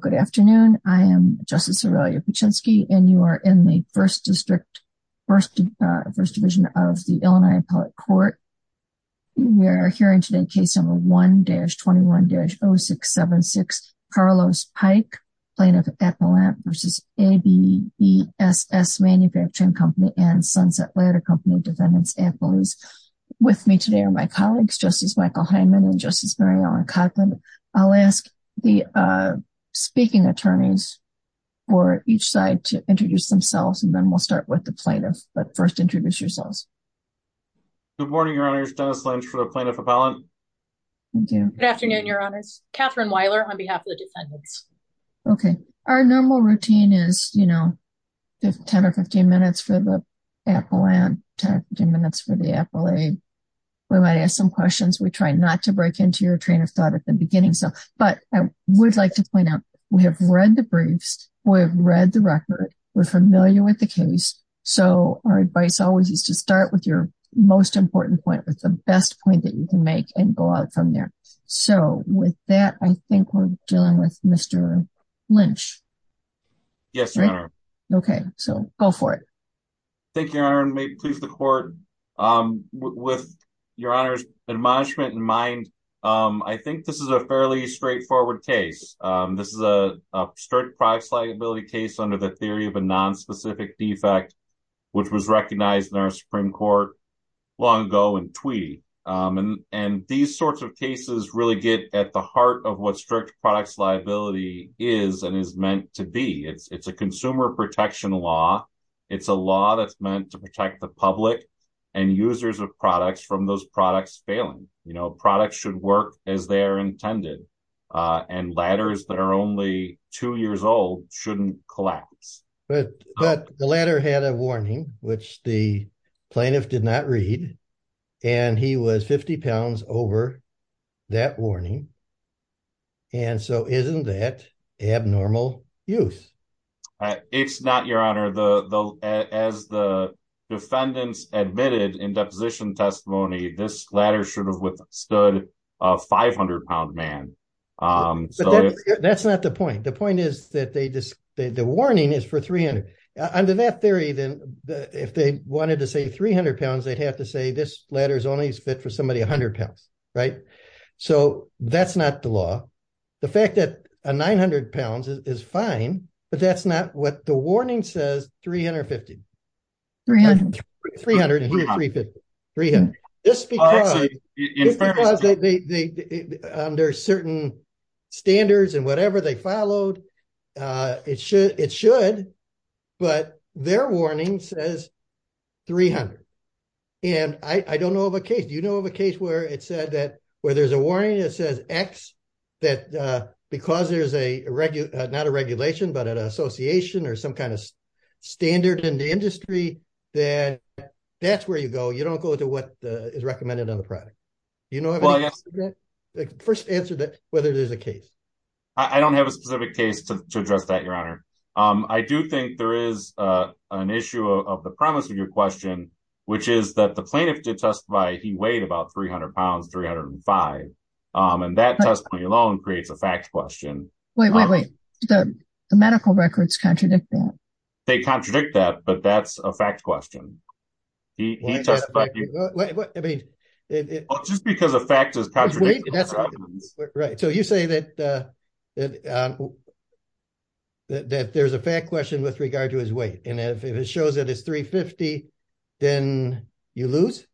Good afternoon. I am Justice Aurelia Paczynski and you are in the First District, First Division of the Illinois Appellate Court. We are hearing today case number 1-21-0676, Carlos Pike, Plaintiff Appellant v. ABSS Manufacturing Co. and Sunset Ladder Co. Defendants Appellees. With me today are my colleagues, Justice Michael Hyman and Justice Mary Ellen Kotlin. I'll ask the speaking attorneys for each side to introduce themselves and then we'll start with the plaintiff, but first introduce yourselves. Good morning, Your Honors. Dennis Lynch for the Plaintiff Appellant. Thank you. Good afternoon, Your Honors. Katherine Weiler on behalf of the defendants. Okay. Our normal routine is, you know, 10 or 15 minutes for the appellant, 10 or 15 minutes for the appellate. We might ask some questions. We try not to break into your train of thought at the beginning. But I would like to point out, we have read the briefs. We have read the record. We're familiar with the case. So our advice always is to start with your most important point, with the best point that you can make and go out from there. So with that, I think we're dealing with Mr. Lynch. Yes, Your Honor. Okay, so go for it. Thank you, Your Honor. May it please the court. With Your Honor's admonishment in mind, I think this is a fairly straightforward case. This is a strict products liability case under the theory of a nonspecific defect, which was recognized in our Supreme Court long ago in Tweedy. And these sorts of cases really get at the heart of what strict products liability is and is meant to be. It's a consumer protection law. It's a law that's meant to protect the public and users of products from those products failing. You know, products should work as they are intended. And ladders that are only two years old shouldn't collapse. But the ladder had a warning, which the plaintiff did not read. And he was 50 pounds over that warning. And so isn't that abnormal use? It's not, Your Honor. As the defendants admitted in deposition testimony, this ladder should have withstood a 500 pound man. But that's not the point. The point is that the warning is for 300. Under that theory, then, if they wanted to say 300 pounds, they'd have to say this ladder is only fit for somebody 100 pounds, right? So that's not the law. The fact that a 900 pounds is fine, but that's not what the warning says, 350. 300 and 350. This is because under certain standards and whatever they followed, it should. But their warning says 300. And I don't know of a case. Do you know of a case where it said that, because there's a regulation, not a regulation, but an association or some kind of standard in the industry, that that's where you go. You don't go into what is recommended on the product. You know, first answer that whether there's a case. I don't have a specific case to address that, Your Honor. I do think there is an issue of the premise of your question, which is that the plaintiff did testify. He weighed about 300 pounds, 305. And that testimony alone creates a fact question. Wait, wait, wait. The medical records contradict that. They contradict that, but that's a fact question. He testified. I mean, just because a fact is contradictory. Right. So you say that there's a fact question with regard to his weight. And if it shows that it's 350, then you lose?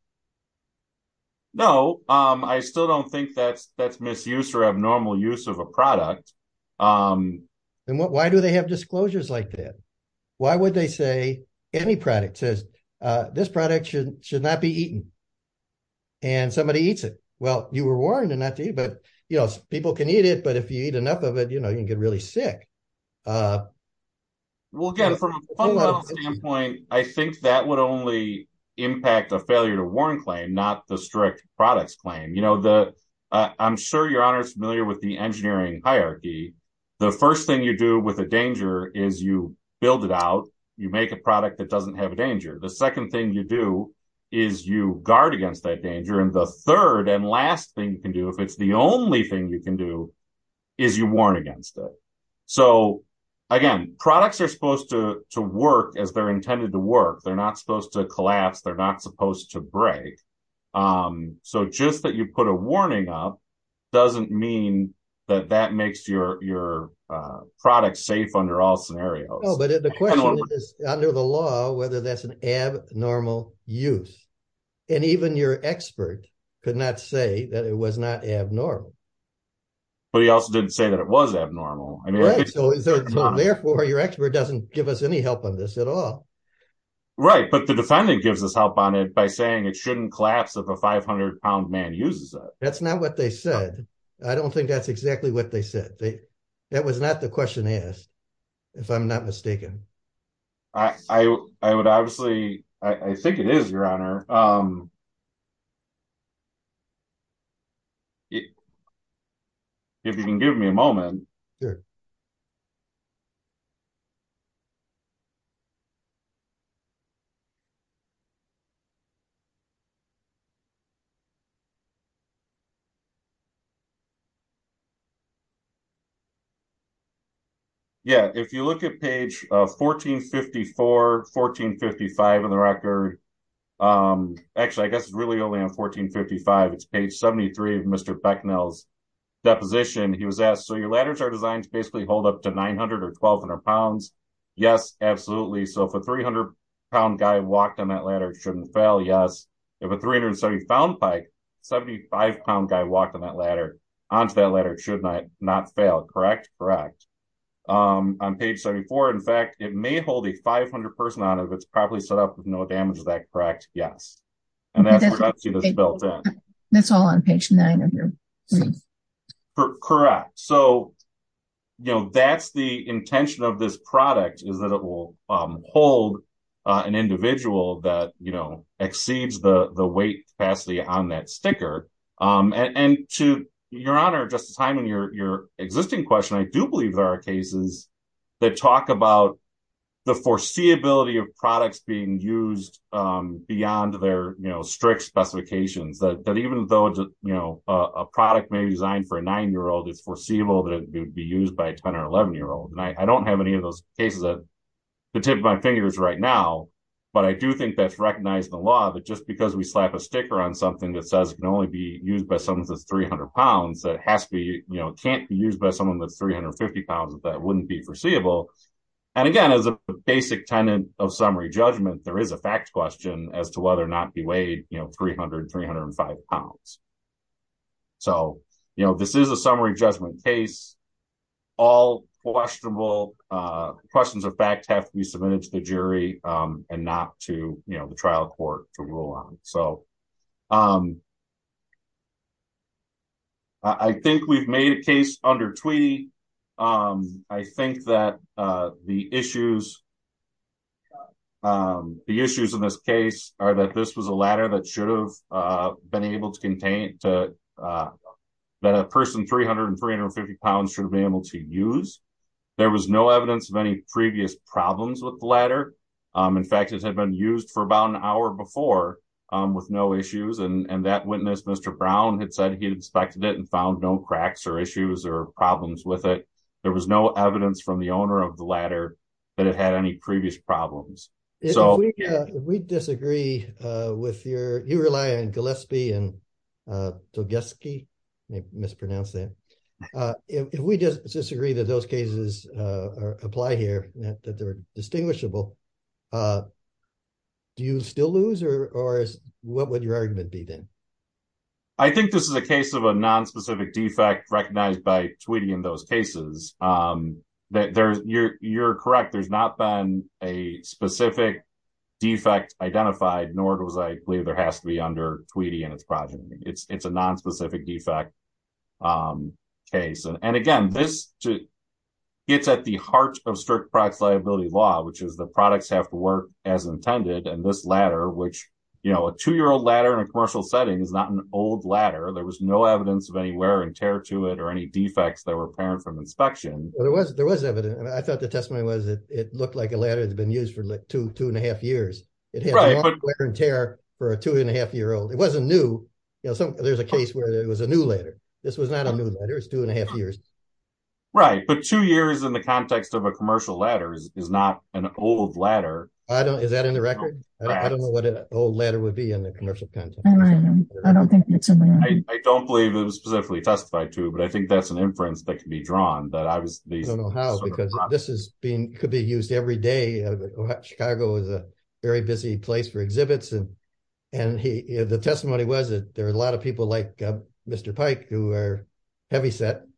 No, I still don't think that's misuse or abnormal use of a product. And why do they have disclosures like that? Why would they say any product says this product should not be eaten and somebody eats it? Well, you were warned not to eat, but people can eat it. But if you eat enough of it, you can get really sick. Well, again, from a fundamental standpoint, I think that would only impact a failure to warn claim, not the strict products claim. I'm sure Your Honor is familiar with the engineering hierarchy. The first thing you do with a danger is you build it out. You make a product that doesn't have a danger. The second thing you do is you guard against that danger. And the third and last thing you can do, if it's the only thing you can do, is you warn against it. So, again, products are supposed to work as they're intended to work. They're not supposed to collapse. They're not supposed to break. So just that you put a warning up doesn't mean that that makes your product safe under all scenarios. But the question is, under the law, whether that's an abnormal use. And even your expert could not say that it was not abnormal. But he also didn't say that it was abnormal. Right, so therefore your expert doesn't give us any help on this at all. Right, but the defendant gives us help on it by saying it shouldn't collapse if a 500-pound man uses it. That's not what they said. I don't think that's obvious. I think it is, Your Honor. If you can give me a moment. Sure. Yeah, if you look at page 1454, 1455 on the record. Actually, I guess it's really only on 1455. It's up to 900 or 1200 pounds. Yes, absolutely. So if a 300-pound guy walked on that ladder, it shouldn't fail. Yes. If a 370-pound bike, 75-pound guy walked on that ladder, onto that ladder, it should not fail. Correct? Correct. On page 74, in fact, it may hold a 500 person on it if it's properly set up with no damage to that. Correct? Yes. And that's what I've seen as built-in. That's all on page nine of your brief. Correct. So, you know, that's the intention of this product is that it will hold an individual that, you know, exceeds the weight capacity on that sticker. And to Your Honor, Justice Hyman, your existing question, I do believe there are cases that talk about the foreseeability of products being used beyond their strict specifications. That even though, you know, a product may be designed for a nine-year-old, it's foreseeable that it would be used by a 10 or 11-year-old. And I don't have any of those cases at the tip of my fingers right now. But I do think that's recognized in the law that just because we slap a sticker on something that says it can only be used by someone that's 300 pounds, that has to be, you know, can't be used by someone that's 350 pounds, that wouldn't be foreseeable. And again, as a basic tenant of summary judgment, there is a fact question as to whether or not he weighed, you know, 300, 305 pounds. So, you know, this is a summary judgment case. All questionable questions of fact have to be submitted to the jury and not to, you know, the trial court to rule on. So, I think we've made a case under Tweedy. I think that the issues in this case are that this was a ladder that should have been able to contain, that a person 300 and 350 pounds should be able to use. There was no evidence of any previous problems with the ladder. In fact, it had been used for about an hour before with no issues. And that witness, Mr. Brown, had said he inspected it and found no cracks or issues or problems with it. There was no evidence from the owner of the ladder that it had any previous problems. If we disagree with your, you rely on Gillespie and Togeski, I mispronounced that. If we just disagree that those cases apply here, that they're distinguishable, do you still lose or what would your argument be then? I think this is a case of a nonspecific defect recognized by Tweedy in those cases. You're correct. There's not been a specific defect identified, nor does I believe there has to be under Tweedy and its progeny. It's a nonspecific defect case. And again, this gets at the heart of strict product liability law, which is the products have to work as intended. And this ladder, which, you know, a two-year-old ladder in a commercial setting is not an old ladder. There was no evidence of any wear and tear to it or any defects that were apparent from inspection. There was evidence. I thought the testimony was that it looked like a ladder that's been used for like two and a half years. It had wear and tear for a two and a half year old. It wasn't new. There's a case where it was a new ladder. This was not a new ladder. It was two and a half years. Right. But two years in the context of a commercial ladder is not an old ladder. Is that in the record? I don't know what an old ladder would be in the commercial context. I don't believe it was specifically testified to, but I think that's an inference that can be drawn. I don't know how because this could be used every day. Chicago is a very busy place for exhibits. And the testimony was that there are a lot of people like Mr. Pike who are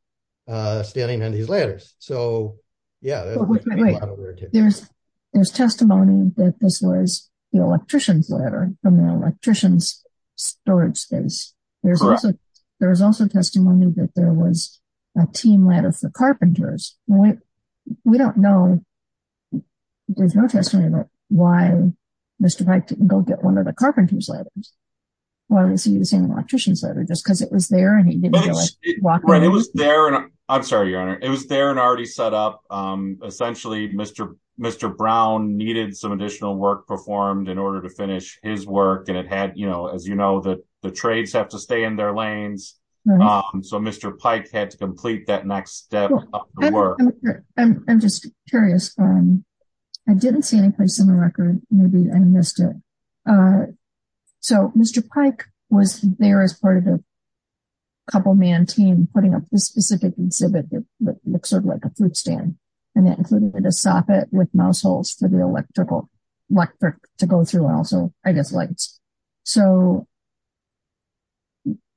standing on these ladders. There's testimony that this was the electrician's ladder from the electrician's storage space. There was also testimony that there was a team ladder for carpenters. We don't know. There's no testimony about why Mr. Pike didn't go get one of the carpenters ladders. Why was he using the electrician's ladder? Just because it was there and he didn't feel like walking on it? It was there and already set up. Essentially, Mr. Brown needed some additional work performed in order to finish his work. And as you know, the trades have to stay in their lanes. So Mr. Pike had to complete that next step of the work. I'm just curious. I didn't see any place in the record. Maybe I missed it. So Mr. Pike was there as part of a couple-man team putting up this specific exhibit that looks sort of like a fruit stand. And that included a soffit with mouse holes for the electric to go through and also I guess lights. So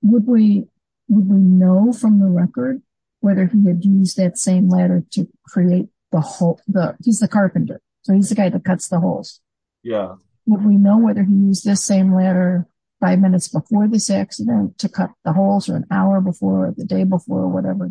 would we know from the record whether he had used that same ladder to create the hole? He's the carpenter. So he's the guy that cuts the holes. Yeah. Would we know whether he used the same ladder five minutes before this accident to cut the holes or an hour before or the day before or whatever?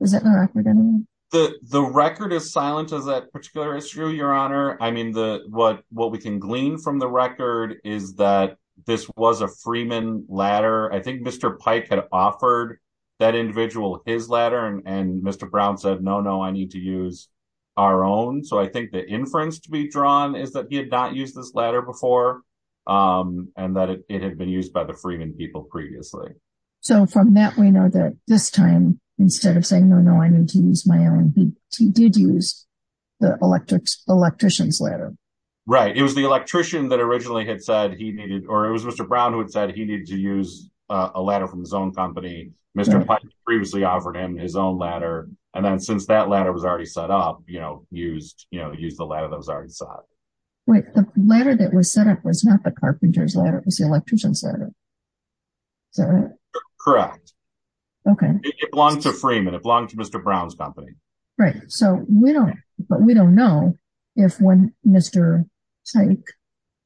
Is that in the record? The record is silent as that particular issue, Your Honor. I mean, what we can glean from the record is that this was a Freeman ladder. I think Mr. Pike had offered that individual his ladder and Mr. Brown said, no, no, I need to use our own. So I think the inference to be drawn is that he had not used this ladder before. And that it had been used by the Freeman people previously. So from that, we know that this time, instead of saying, no, no, I need to use my own, he did use the electrician's ladder. Right. It was the electrician that originally had said he needed, or it was Mr. Brown who had said he needed to use a ladder from his own company. Mr. Pike previously offered him his own ladder. And then since that ladder was already set up, used the ladder that was already set up. Wait, the ladder that was set up was not the carpenter's ladder, it was the electrician's ladder. Is that right? Correct. Okay. It belongs to Freeman. It belongs to Mr. Brown's company. Right. So we don't, but we don't know if when Mr. Pike,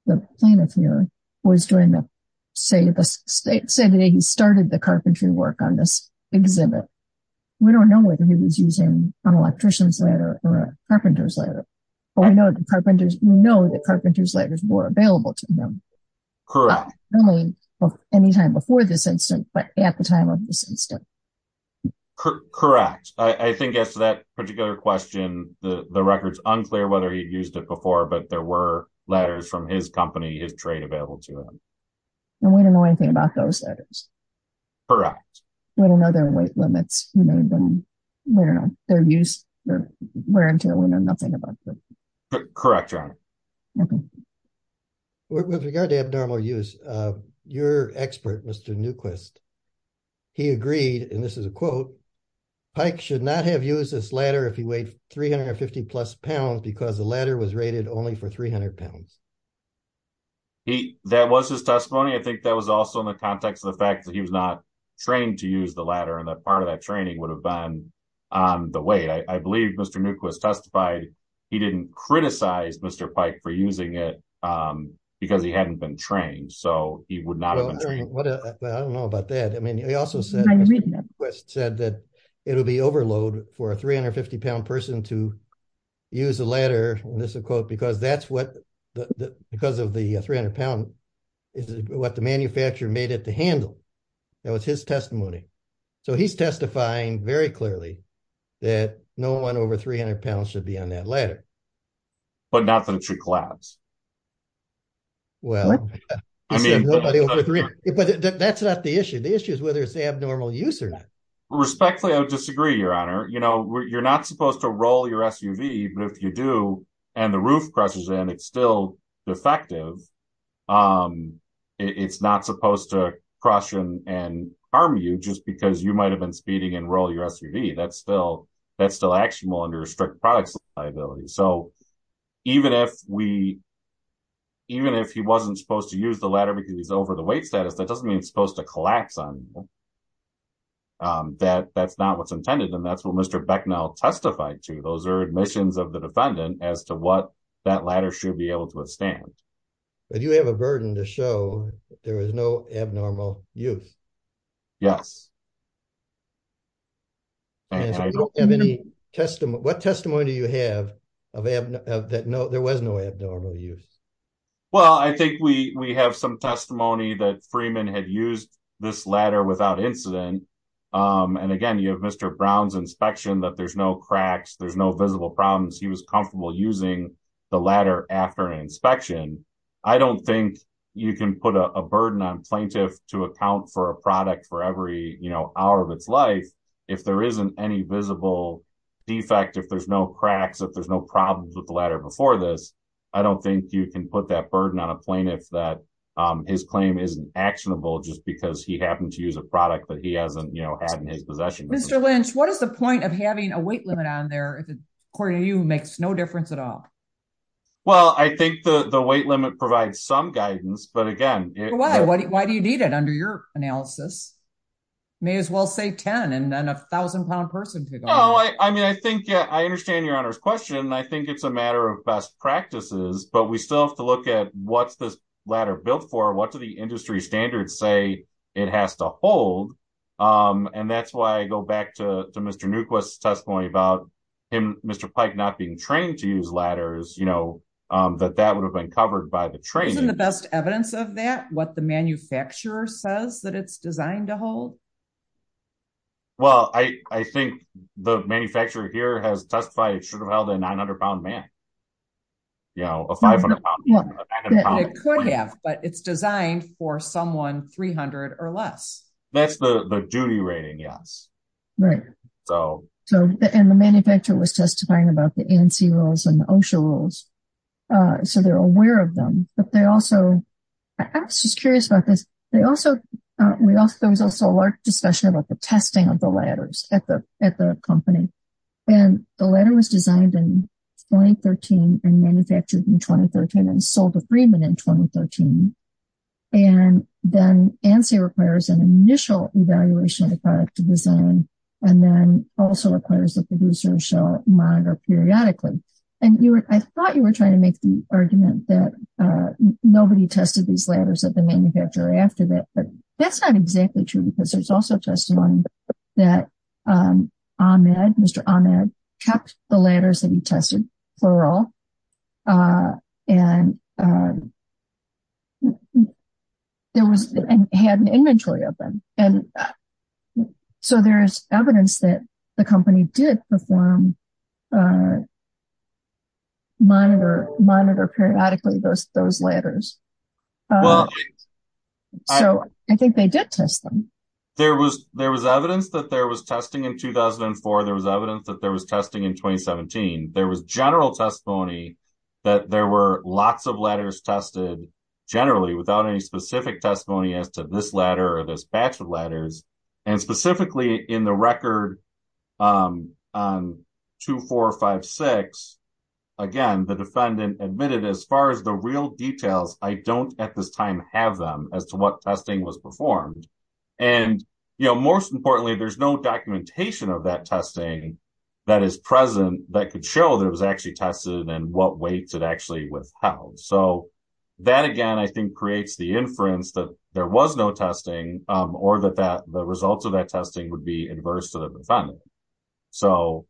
the plaintiff here, was doing the, say the day he started the carpentry work on this exhibit. We don't know whether he was using an electrician's ladder or a carpenter's ladder, but we know that carpenter's ladders were available to him. Correct. Not only any time before this incident, but at the time of this incident. Correct. I think as to that particular question, the record's unclear whether he'd used it before, but there were ladders from his company, his trade, available to him. And we don't know anything about those ladders. Correct. We don't know their weight limits. We don't know their use. We don't know nothing about them. Correct, Your Honor. Okay. With regard to abnormal use, your expert, Mr. Newquist, he agreed, and this is a quote, Pike should not have used this ladder if he weighed 350 plus pounds because the ladder was rated only for 300 pounds. That was his testimony. I think that was also in the context of the fact that he was not trained to use the ladder, and that part of that training would have been on the weight. I believe Mr. Newquist testified he didn't criticize Mr. Pike for using it because he hadn't been trained, so he would not have been trained. I don't know about that. I mean, he also said, Mr. Newquist said that it would be overload for a 350-pound person to use a ladder, and this is a quote, because that's what, because of the 300 pound, is what the manufacturer made it to handle. That was his testimony, so he's testifying very clearly that no one over 300 pounds should be on that ladder. But not that it should collapse. Well, I mean, but that's not the issue. The issue is whether it's abnormal use or not. Respectfully, I would disagree, Your Honor. You know, you're not supposed to roll your SUV, but if you do, and the roof crushes in, it's still defective. It's not supposed to crush and harm you just because you might have been speeding and roll your SUV. That's still actionable under strict product liability. So even if we, even if he wasn't supposed to use the ladder because he's over the weight status, that doesn't mean it's supposed to collapse on that. That's not what's intended, and that's what Mr. Becknell testified to. Those are admissions of the defendant as to what that ladder should be able to withstand. But you have a burden to show there was no abnormal use. Yes. And I don't have any testimony, what testimony do you have of that? No, there was no abnormal use. Well, I think we have some testimony that Freeman had used this ladder without incident. And again, you have Mr. Brown's inspection that there's no cracks, there's no visible problems. He was comfortable using the ladder after an inspection. I don't think you can put a burden on plaintiff to account for a product for every, you know, hour of its life. If there isn't any visible defect, if there's no cracks, if there's no problems with the ladder before this, I don't think you can put that burden on a plaintiff that his claim isn't actionable just because he happened to use a product that he hasn't, you know, had in his possession. Mr. Lynch, what is the point of having a weight limit on there, according to you, makes no difference at all? Well, I think the weight limit provides some guidance. But again, why do you need it under your analysis? May as well say 10 and then a thousand pound person. I mean, I think I understand your honor's question. I think it's a matter of best practices, but we still have to look at what's this ladder built for? What do the industry standards say it has to hold? And that's why I go back to Mr. Newquist's testimony about Mr. Pike not being trained to use ladders, you know, that that would have been covered by the training. Isn't the best evidence of that what the manufacturer says that it's designed to hold? Well, I think the manufacturer here has testified it should have held a 900 pound man. You know, a 500 pound man. It could have, but it's designed for someone 300 or less. That's the duty rating, yes. Right. So, and the manufacturer was testifying about the ANC rules and the OSHA rules. So they're aware of them, but they also, I was just curious about this. They also, we also, there was also a large discussion about the testing of the ladders at the company. And the ladder was designed in 2013 and manufactured in 2013 and sold to Freeman in 2013. And then ANSI requires an initial evaluation of the product design, and then also requires the producer shall monitor periodically. And you were, I thought you were trying to make the argument that nobody tested these ladders at the manufacturer after that, but that's not exactly true because there's also testimony that Ahmed, Mr. Ahmed, kept the ladders that he tested for all. And there was, and had an inventory of them. And so there's evidence that the company did perform, monitor, monitor periodically those, those ladders. Well, so I think they did test them. There was, there was evidence that there was testing in 2004. There was evidence that there was testing in 2017. There was general testimony that there were lots of ladders tested generally without any specific testimony as to this ladder or this batch of ladders. And specifically in the record on 2456, again, the defendant admitted as far as the real details, I don't at this time have them as to what testing was performed. And, you know, most importantly, there's no documentation of that testing that is present that could show that it was actually tested and what weights it actually withheld. So that again, I think creates the inference that there was no testing or that that the results of that testing would be inverse to the defendant. So,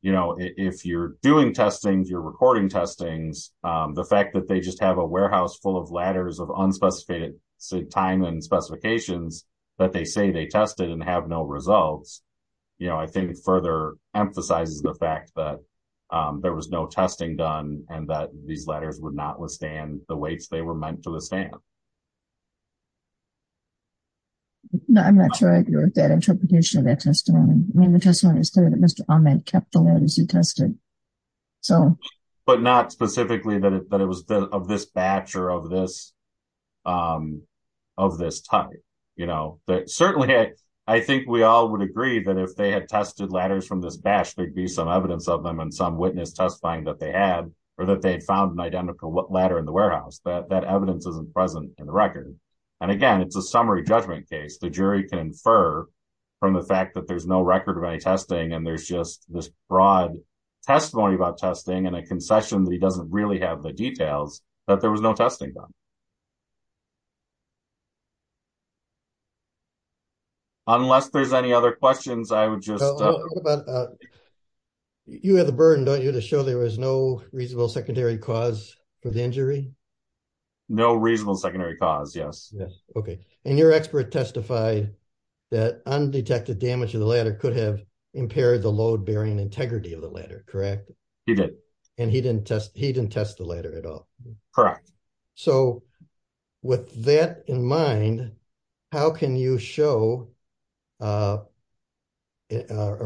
you know, if you're doing testings, you're recording testings the fact that they just have a warehouse full of ladders of unspecified time and specifications that they say they tested and have no results, you know, I think further emphasizes the fact that there was no testing done and that these ladders would not withstand the weights they were meant to withstand. No, I'm not sure I agree with that interpretation of that testimony. I mean, the testimony is clear that Mr. Ahmed kept the ladders he tested. So, but not specifically that it was of this batch or of this of this type, you know, that certainly I think we all would agree that if they had tested ladders from this batch, there'd be some evidence of them and some witness testifying that they had or that they'd found an identical ladder in the warehouse that that evidence isn't present in the record. And again, it's a summary judgment case, the jury can infer from the fact that there's no record of any testing and there's just this broad testimony about testing and a concession that he doesn't really have the details that there was no testing done. Unless there's any other questions, I would just... You have the burden, don't you, to show there was no reasonable secondary cause for the injury? No reasonable secondary cause, yes. Okay. And your expert testified that undetected damage of the ladder could have impaired the load bearing integrity of the ladder, correct? He did. And he didn't test the ladder at all? Correct. So, with that in mind, how can you show or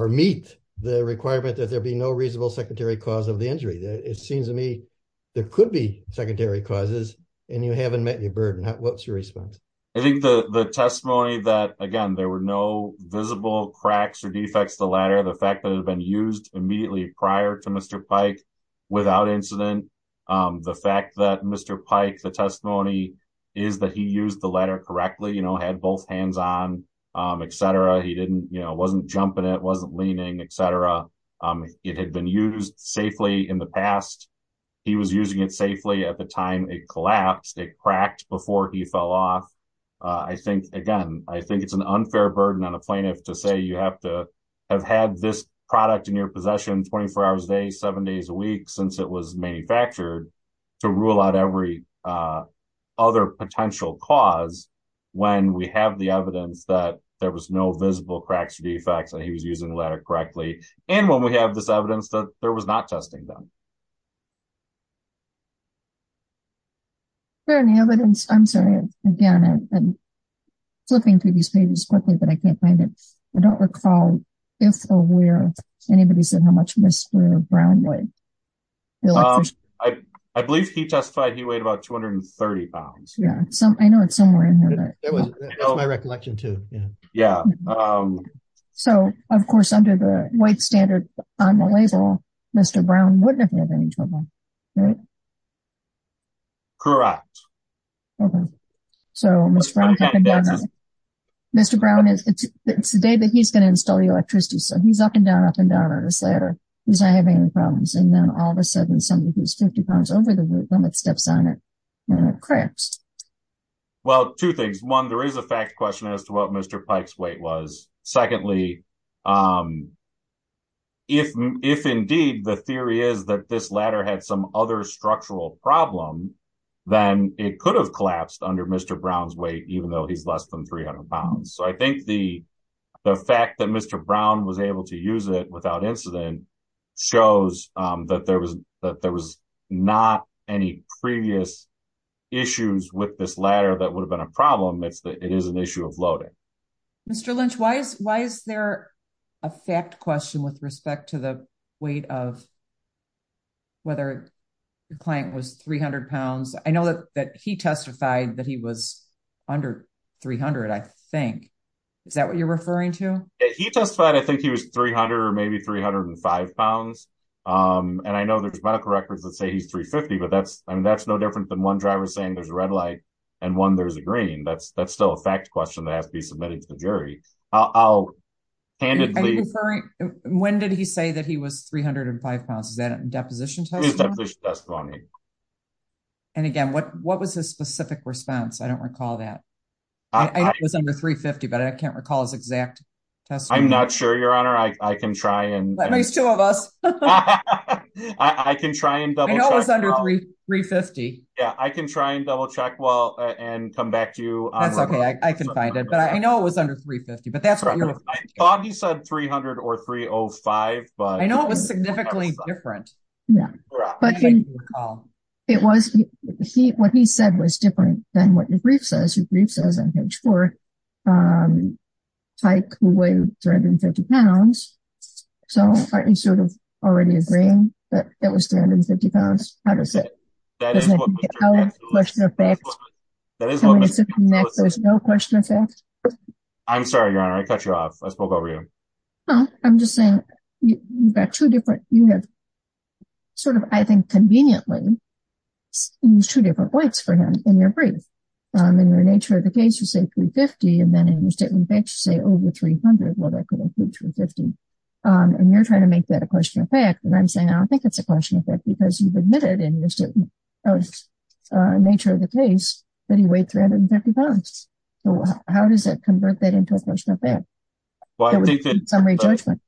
meet the requirement that there be no reasonable secondary cause of the injury? It seems to me there could be secondary causes and you haven't met your burden. What's your response? I think the testimony that, again, there were no visible cracks or defects to the ladder, the fact that it had been used immediately prior to Mr. Pike without incident, the fact that Mr. Pike, the testimony is that he used the ladder correctly, had both hands on, etc. He wasn't jumping it, wasn't leaning, etc. It had been used safely in the past. He was using it safely at the collapsed, it cracked before he fell off. I think, again, I think it's an unfair burden on a plaintiff to say you have to have had this product in your possession 24 hours a day, seven days a week, since it was manufactured to rule out every other potential cause when we have the evidence that there was no visible cracks or defects and he was using the ladder correctly. And when we have this evidence that there was not testing done. Is there any evidence, I'm sorry, again, I'm flipping through these pages quickly, but I can't find it. I don't recall if or where anybody said how much Mr. Brown weighed. I believe he testified he weighed about 230 pounds. Yeah, I know it's somewhere in here. That's my recollection too. So, of course, under the white standard on the label, Mr. Brown wouldn't have had any trouble. Correct. Mr. Brown, it's the day that he's going to install the electricity, so he's up and down, up and down on this ladder. He's not having any problems. And then all of a sudden, somebody who's 50 pounds over the limit steps on it and it cracks. Well, two things. One, there is a fact question as to what Mr. Pike's weight was. Secondly, if indeed the theory is that this ladder had some other structural problem, then it could have collapsed under Mr. Brown's weight, even though he's less than 300 pounds. So I think the fact that Mr. Brown was able to use it without incident shows that there was not any previous issues with this ladder that would have been a problem. It is an issue of a fact question with respect to the weight of whether the client was 300 pounds. I know that he testified that he was under 300, I think. Is that what you're referring to? He testified I think he was 300 or maybe 305 pounds. And I know there's medical records that say he's 350, but that's no different than one driver saying there's a red light and one there's a green. That's still a fact question that has to be submitted to the jury. I'll hand it to you. When did he say that he was 305 pounds? Is that a deposition testimony? And again, what was his specific response? I don't recall that. I think it was under 350, but I can't recall his exact testimony. I'm not sure, Your Honor. I can try and- At least two of us. I can try and double check. I know it was under 350. Yeah, I can try and double check and come back to you- That's okay. I can find it. But I know it was under 350, but that's what you're- I thought he said 300 or 305, but- I know it was significantly different. What he said was different than what your brief says. Your brief says on page four, Tyke, who weighed 350 pounds, so are you sort of already agreeing that it was 350 pounds? How does it- There's no question of fact. There's no question of fact? I'm sorry, Your Honor. I cut you off. I spoke over you. I'm just saying you've got two different- you have sort of, I think conveniently, used two different weights for him in your brief. In the nature of the case, you say 350, and then in your statement of facts, you say over 300. Well, that could include 350. And you're trying to make that a question of fact, but I'm saying I don't think it's a question of fact because you've admitted in your statement of nature of the case that he weighed 350 pounds. So how does that convert that into a question of fact? Well, I think that- Summary judgment.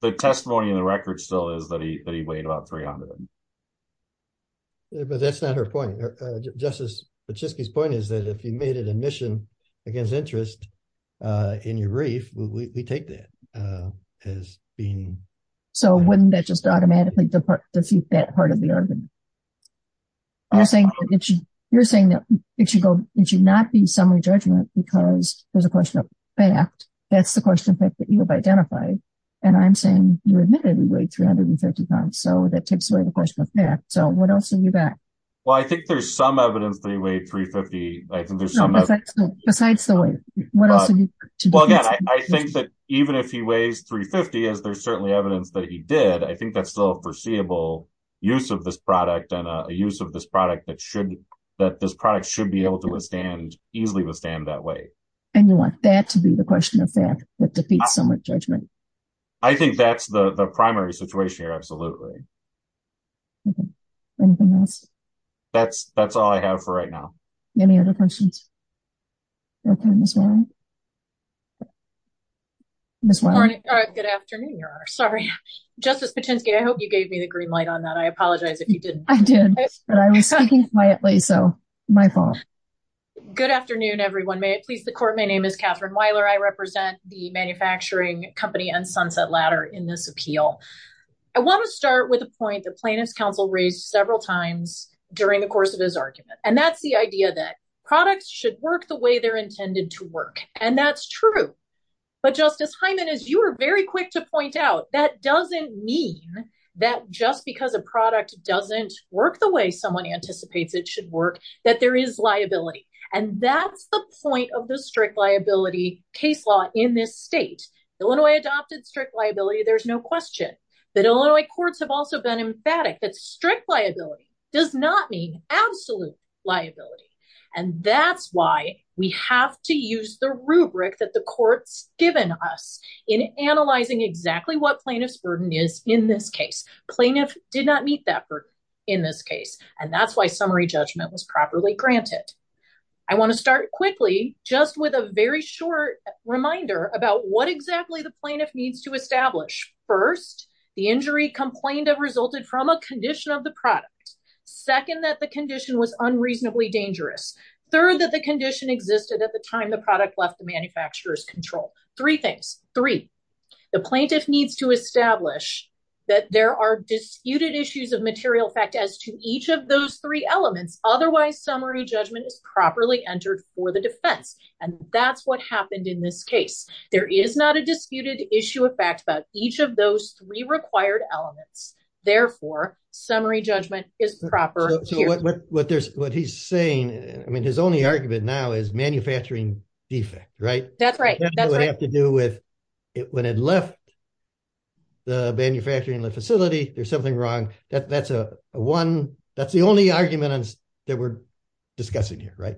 The testimony in the record still is that he weighed about 300. But that's not her point. Justice Pachisky's point is that if you made an admission against interest in your brief, we take that as being- So wouldn't that just automatically defeat that part of the argument? You're saying that it should go- it should not be summary judgment because there's a question of fact. That's the question of fact that you have identified. And I'm saying you admitted he weighed 350 pounds. So that takes away the question of fact. So what else have you got? Well, I think there's some evidence that he weighed 350. I think there's some- Besides the weight. What else are you- I think that even if he weighs 350, as there's certainly evidence that he did, I think that's still a foreseeable use of this product and a use of this product that should- that this product should be able to withstand- easily withstand that weight. And you want that to be the question of fact that defeats summary judgment. I think that's the primary situation here. Absolutely. Anything else? That's all I have for right now. Any other questions? Ms. Weiler. Good afternoon, Your Honor. Sorry. Justice Patinsky, I hope you gave me the green light on that. I apologize if you didn't. I did. But I was speaking quietly, so my fault. Good afternoon, everyone. May it please the court. My name is Katherine Weiler. I represent the manufacturing company and Sunset Ladder in this appeal. I want to start with a point that plaintiff's counsel raised several times during the course of his argument. And that's the idea that products should work the way they're intended to work. And that's true. But Justice Hyman, as you were very quick to point out, that doesn't mean that just because a product doesn't work the way someone anticipates it should work, that there is liability. And that's the point of the strict liability case law in this state. Illinois adopted strict liability. There's no question that Illinois courts have also been emphatic that strict liability does not mean absolute liability. And that's why we have to use the rubric that the court's given us in analyzing exactly what plaintiff's burden is in this case. Plaintiff did not meet that burden in this case. And that's why summary judgment was properly granted. I want to start quickly just with a very short reminder about what exactly the plaintiff needs to establish. First, the injury complained of resulted from a condition of the product. Second, that the condition was unreasonably dangerous. Third, that the condition existed at the time the product left the manufacturer's control. Three things. Three, the plaintiff needs to establish that there are disputed issues of material fact as to each of those three elements. Otherwise, summary judgment is properly entered for the defense. And that's what happened in this case. There is not a disputed issue of fact about each of those three required elements. Therefore, summary judgment is proper. So what he's saying, I mean, his only argument now is manufacturing defect, right? That's right. That would have to do with when it left the manufacturing facility, there's something wrong. That's the only argument that we're discussing here, right?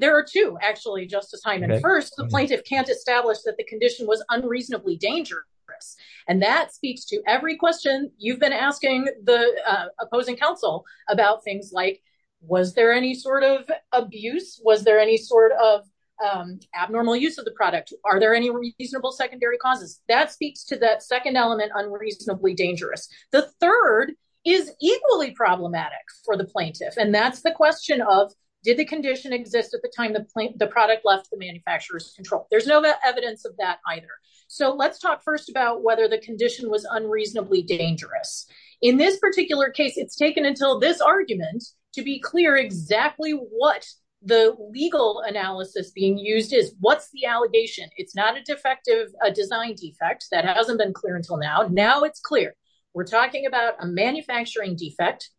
There are two actually, Justice Hyman. First, the plaintiff can't establish that the condition was unreasonably dangerous. And that speaks to every question you've been asking the opposing counsel about things like, was there any sort of abuse? Was there any sort of abnormal use of the product? Are there any reasonable secondary causes? That speaks to that second element, unreasonably dangerous. The third is equally problematic for the plaintiff. And that's the question of, did the condition exist at the time the product left the manufacturer's control? There's no evidence of that either. So let's talk first about whether the condition was unreasonably dangerous. In this particular case, it's taken until this argument to be clear exactly what the legal analysis being used is. What's the allegation? It's not a defective design defect. That hasn't been clear until now. Now it's clear. We're talking about a manufacturing defect.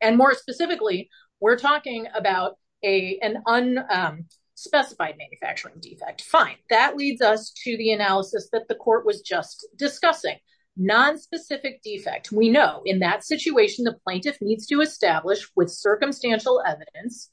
And more specifically, we're talking about an unspecified manufacturing defect. Fine. That leads us to the analysis that the court was just discussing. Nonspecific defect. We know in that situation, the plaintiff needs to establish with circumstantial evidence.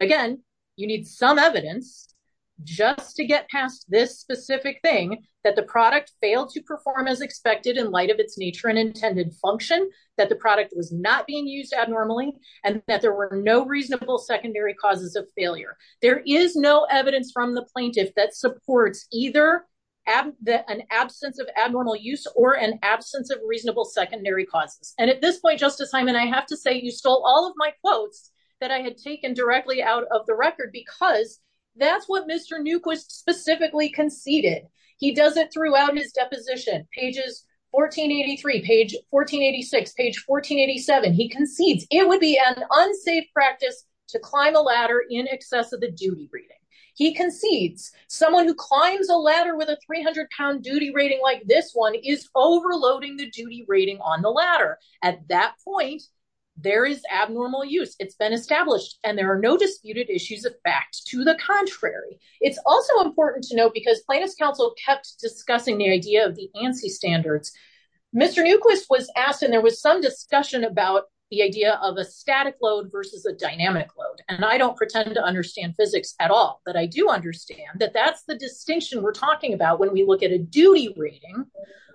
Again, you need some evidence just to get past this specific thing, that the product failed to perform as expected in light of its nature and intended function, that the product was not being used abnormally, and that there were no reasonable secondary causes of failure. There is no evidence from the plaintiff that supports either an absence of abnormal use or an absence of reasonable secondary causes. And at this point, Justice Hyman, I have to say you stole all of my quotes that I had taken directly out of the record because that's what Mr. Newquist specifically conceded. He does it throughout his deposition. Pages 1483, page 1486, page 1487, he concedes it would be an unsafe practice to climb a ladder in excess of the duty rating. He concedes someone who climbs a ladder with a 300-pound duty rating like this one is overloading the duty rating on the ladder. At that point, there is abnormal use. It's been important to note because plaintiff's counsel kept discussing the idea of the ANSI standards, Mr. Newquist was asked and there was some discussion about the idea of a static load versus a dynamic load. And I don't pretend to understand physics at all, but I do understand that that's the distinction we're talking about when we look at a duty rating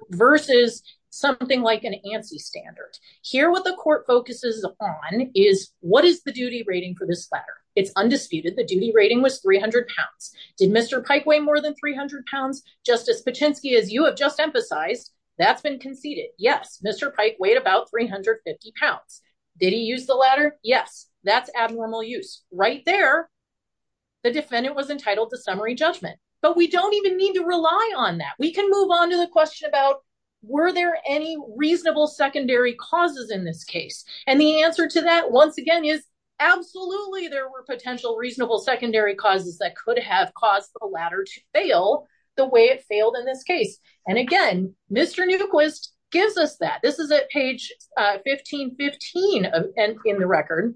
versus something like an ANSI standard. Here what the court focuses on is what is the duty rating for this ladder? It's undisputed the duty rating was 300 pounds. Did Mr. Pike weigh more than 300 pounds? Justice Patinsky, as you have just emphasized, that's been conceded. Yes, Mr. Pike weighed about 350 pounds. Did he use the ladder? Yes. That's abnormal use. Right there, the defendant was entitled to summary judgment. But we don't even need to rely on that. We can move on to the question about were there any reasonable secondary causes in this case? And the answer to that once again is absolutely there were potential reasonable secondary causes that could have caused the ladder to fail the way it failed in this case. And again, Mr. Newquist gives us that. This is at page 1515 in the record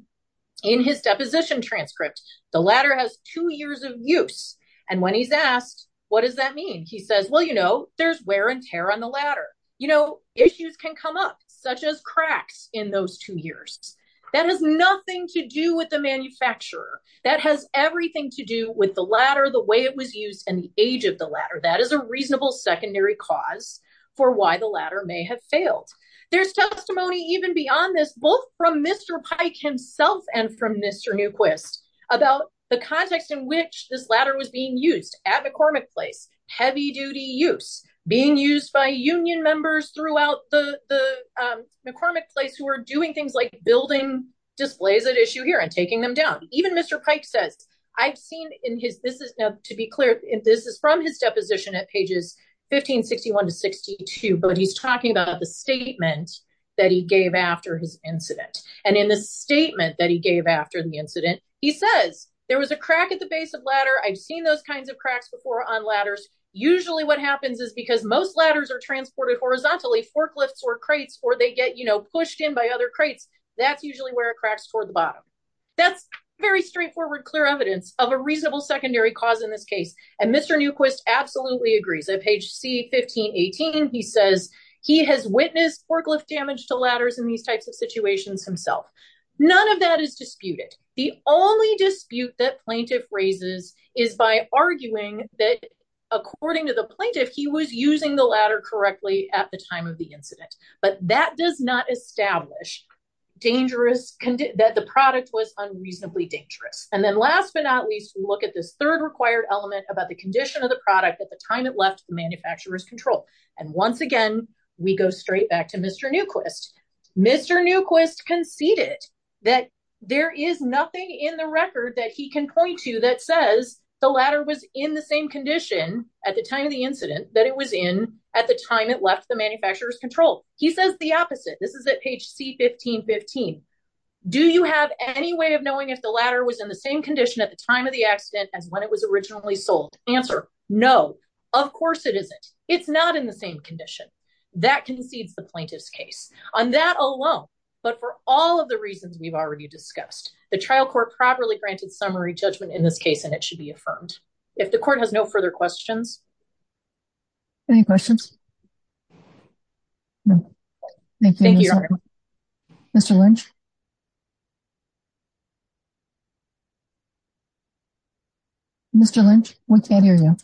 in his deposition transcript. The ladder has two years of use. And when he's asked, what does that mean? He says, well, you know, there's wear and tear on the ladder. You know, issues can come up as cracks in those two years. That has nothing to do with the manufacturer. That has everything to do with the ladder, the way it was used and the age of the ladder. That is a reasonable secondary cause for why the ladder may have failed. There's testimony even beyond this, both from Mr. Pike himself and from Mr. Newquist about the context in which this ladder was being used at McCormick Place who were doing things like building displays at issue here and taking them down. Even Mr. Pike says, I've seen in his, this is now to be clear, this is from his deposition at pages 1561 to 62, but he's talking about the statement that he gave after his incident. And in the statement that he gave after the incident, he says there was a crack at the base of ladder. I've seen those kinds of cracks before on ladders. Usually what happens is because most ladders are transported horizontally, forklifts or crates, or they get, you know, pushed in by other crates, that's usually where it cracks toward the bottom. That's very straightforward, clear evidence of a reasonable secondary cause in this case. And Mr. Newquist absolutely agrees. At page C1518, he says he has witnessed forklift damage to ladders in these types of situations himself. None of that is disputed. The only dispute that plaintiff raises is by arguing that according to the plaintiff, he was using the ladder correctly at the time of the incident. But that does not establish dangerous, that the product was unreasonably dangerous. And then last but not least, we look at this third required element about the condition of the product at the time it left the manufacturer's control. And once again, we go straight back to Mr. Newquist. Mr. Newquist conceded that there is nothing in the record that he can point to that says the ladder was in the same condition at the time it left the manufacturer's control. He says the opposite. This is at page C1515. Do you have any way of knowing if the ladder was in the same condition at the time of the accident as when it was originally sold? Answer, no. Of course it isn't. It's not in the same condition. That concedes the plaintiff's case. On that alone, but for all of the reasons we've already discussed, the trial court properly granted summary judgment in this case, and it should be affirmed. If the court has no further questions. Any questions? Mr. Lynch? Mr. Lynch, we can't hear you.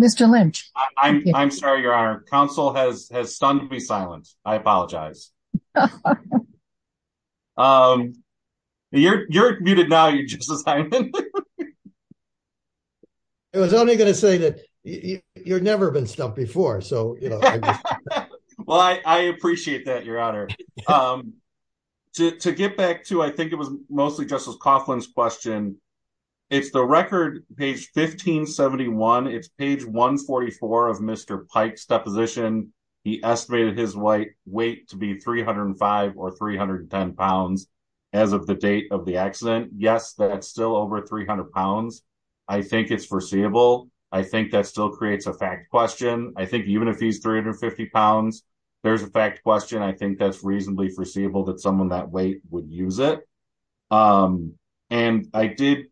Mr. Lynch. I'm sorry, Your Honor. Counsel has stunned me silent. I apologize. You're muted now, Justice Hyman. I was only going to say that you've never been stumped before. Well, I appreciate that, Your Honor. To get back to, I think it was mostly Justice Coughlin's question. It's the record, page 1571. It's page 144 of Mr. Pike's deposition. He estimated his weight to be 305 or 310 pounds as of the date of the accident. Yes, that's still over 300 pounds. I think it's foreseeable. I think that still creates a fact question. I think even if he's 350 pounds, there's a fact question. I think that's reasonably foreseeable that someone that weight would use it. And I did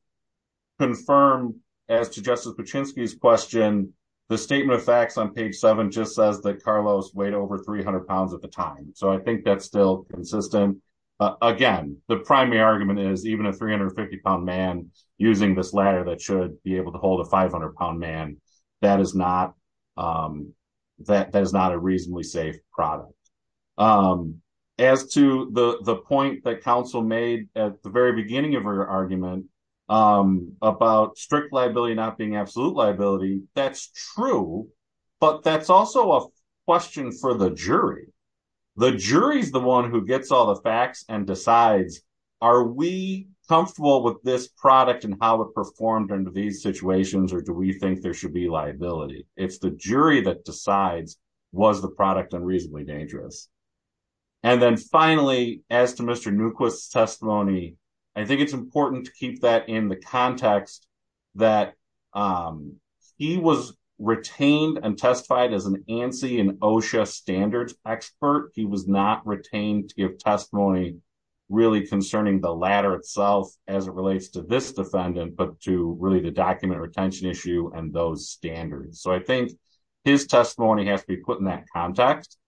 confirm, as to Justice Paczynski's question, the statement of facts on page seven just says that Carlos weighed over 300 pounds at the time. So I think that's still consistent. Again, the primary argument is even a 350-pound man using this ladder that should be able to hold a 500-pound man, that is not a reasonably safe product. As to the point that counsel made at the very beginning of her argument about strict liability not being absolute liability, that's true. But that's also a question for the jury. The jury is the one who gets all the facts and decides, are we comfortable with this product and how it performed under these situations, or do we think there should be liability? It's the jury that decides, was the product unreasonably dangerous? And then finally, as to Mr. Newquist's testimony, I think it's important to keep that in the context that he was retained and testified as an ANSI and OSHA standards expert. He was not retained to give testimony really concerning the ladder itself as it relates to this defendant, but to really the document retention issue and those standards. So I think his testimony has to be in that context.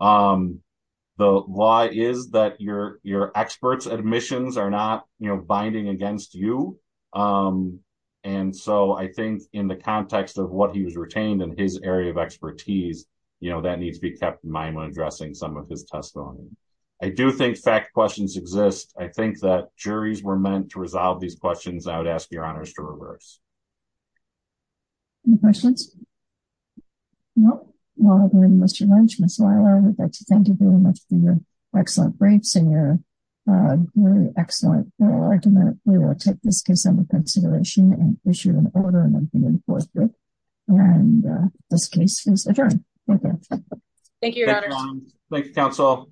The law is that your experts' admissions are not binding against you. And so I think in the context of what he was retained and his area of expertise, you know, that needs to be kept in mind when addressing some of his testimony. I do think fact questions exist. I think that juries were meant to resolve these questions. I would ask your honors to reverse. Any questions? No. Well, then, Mr. Lynch, Ms. Weiler, I would like to thank you very much for your excellent briefs and your excellent argument. We will take this case under consideration and issue an order and enforce it. And this case is adjourned. Thank you. Thank you, your honors. Thank you, counsel.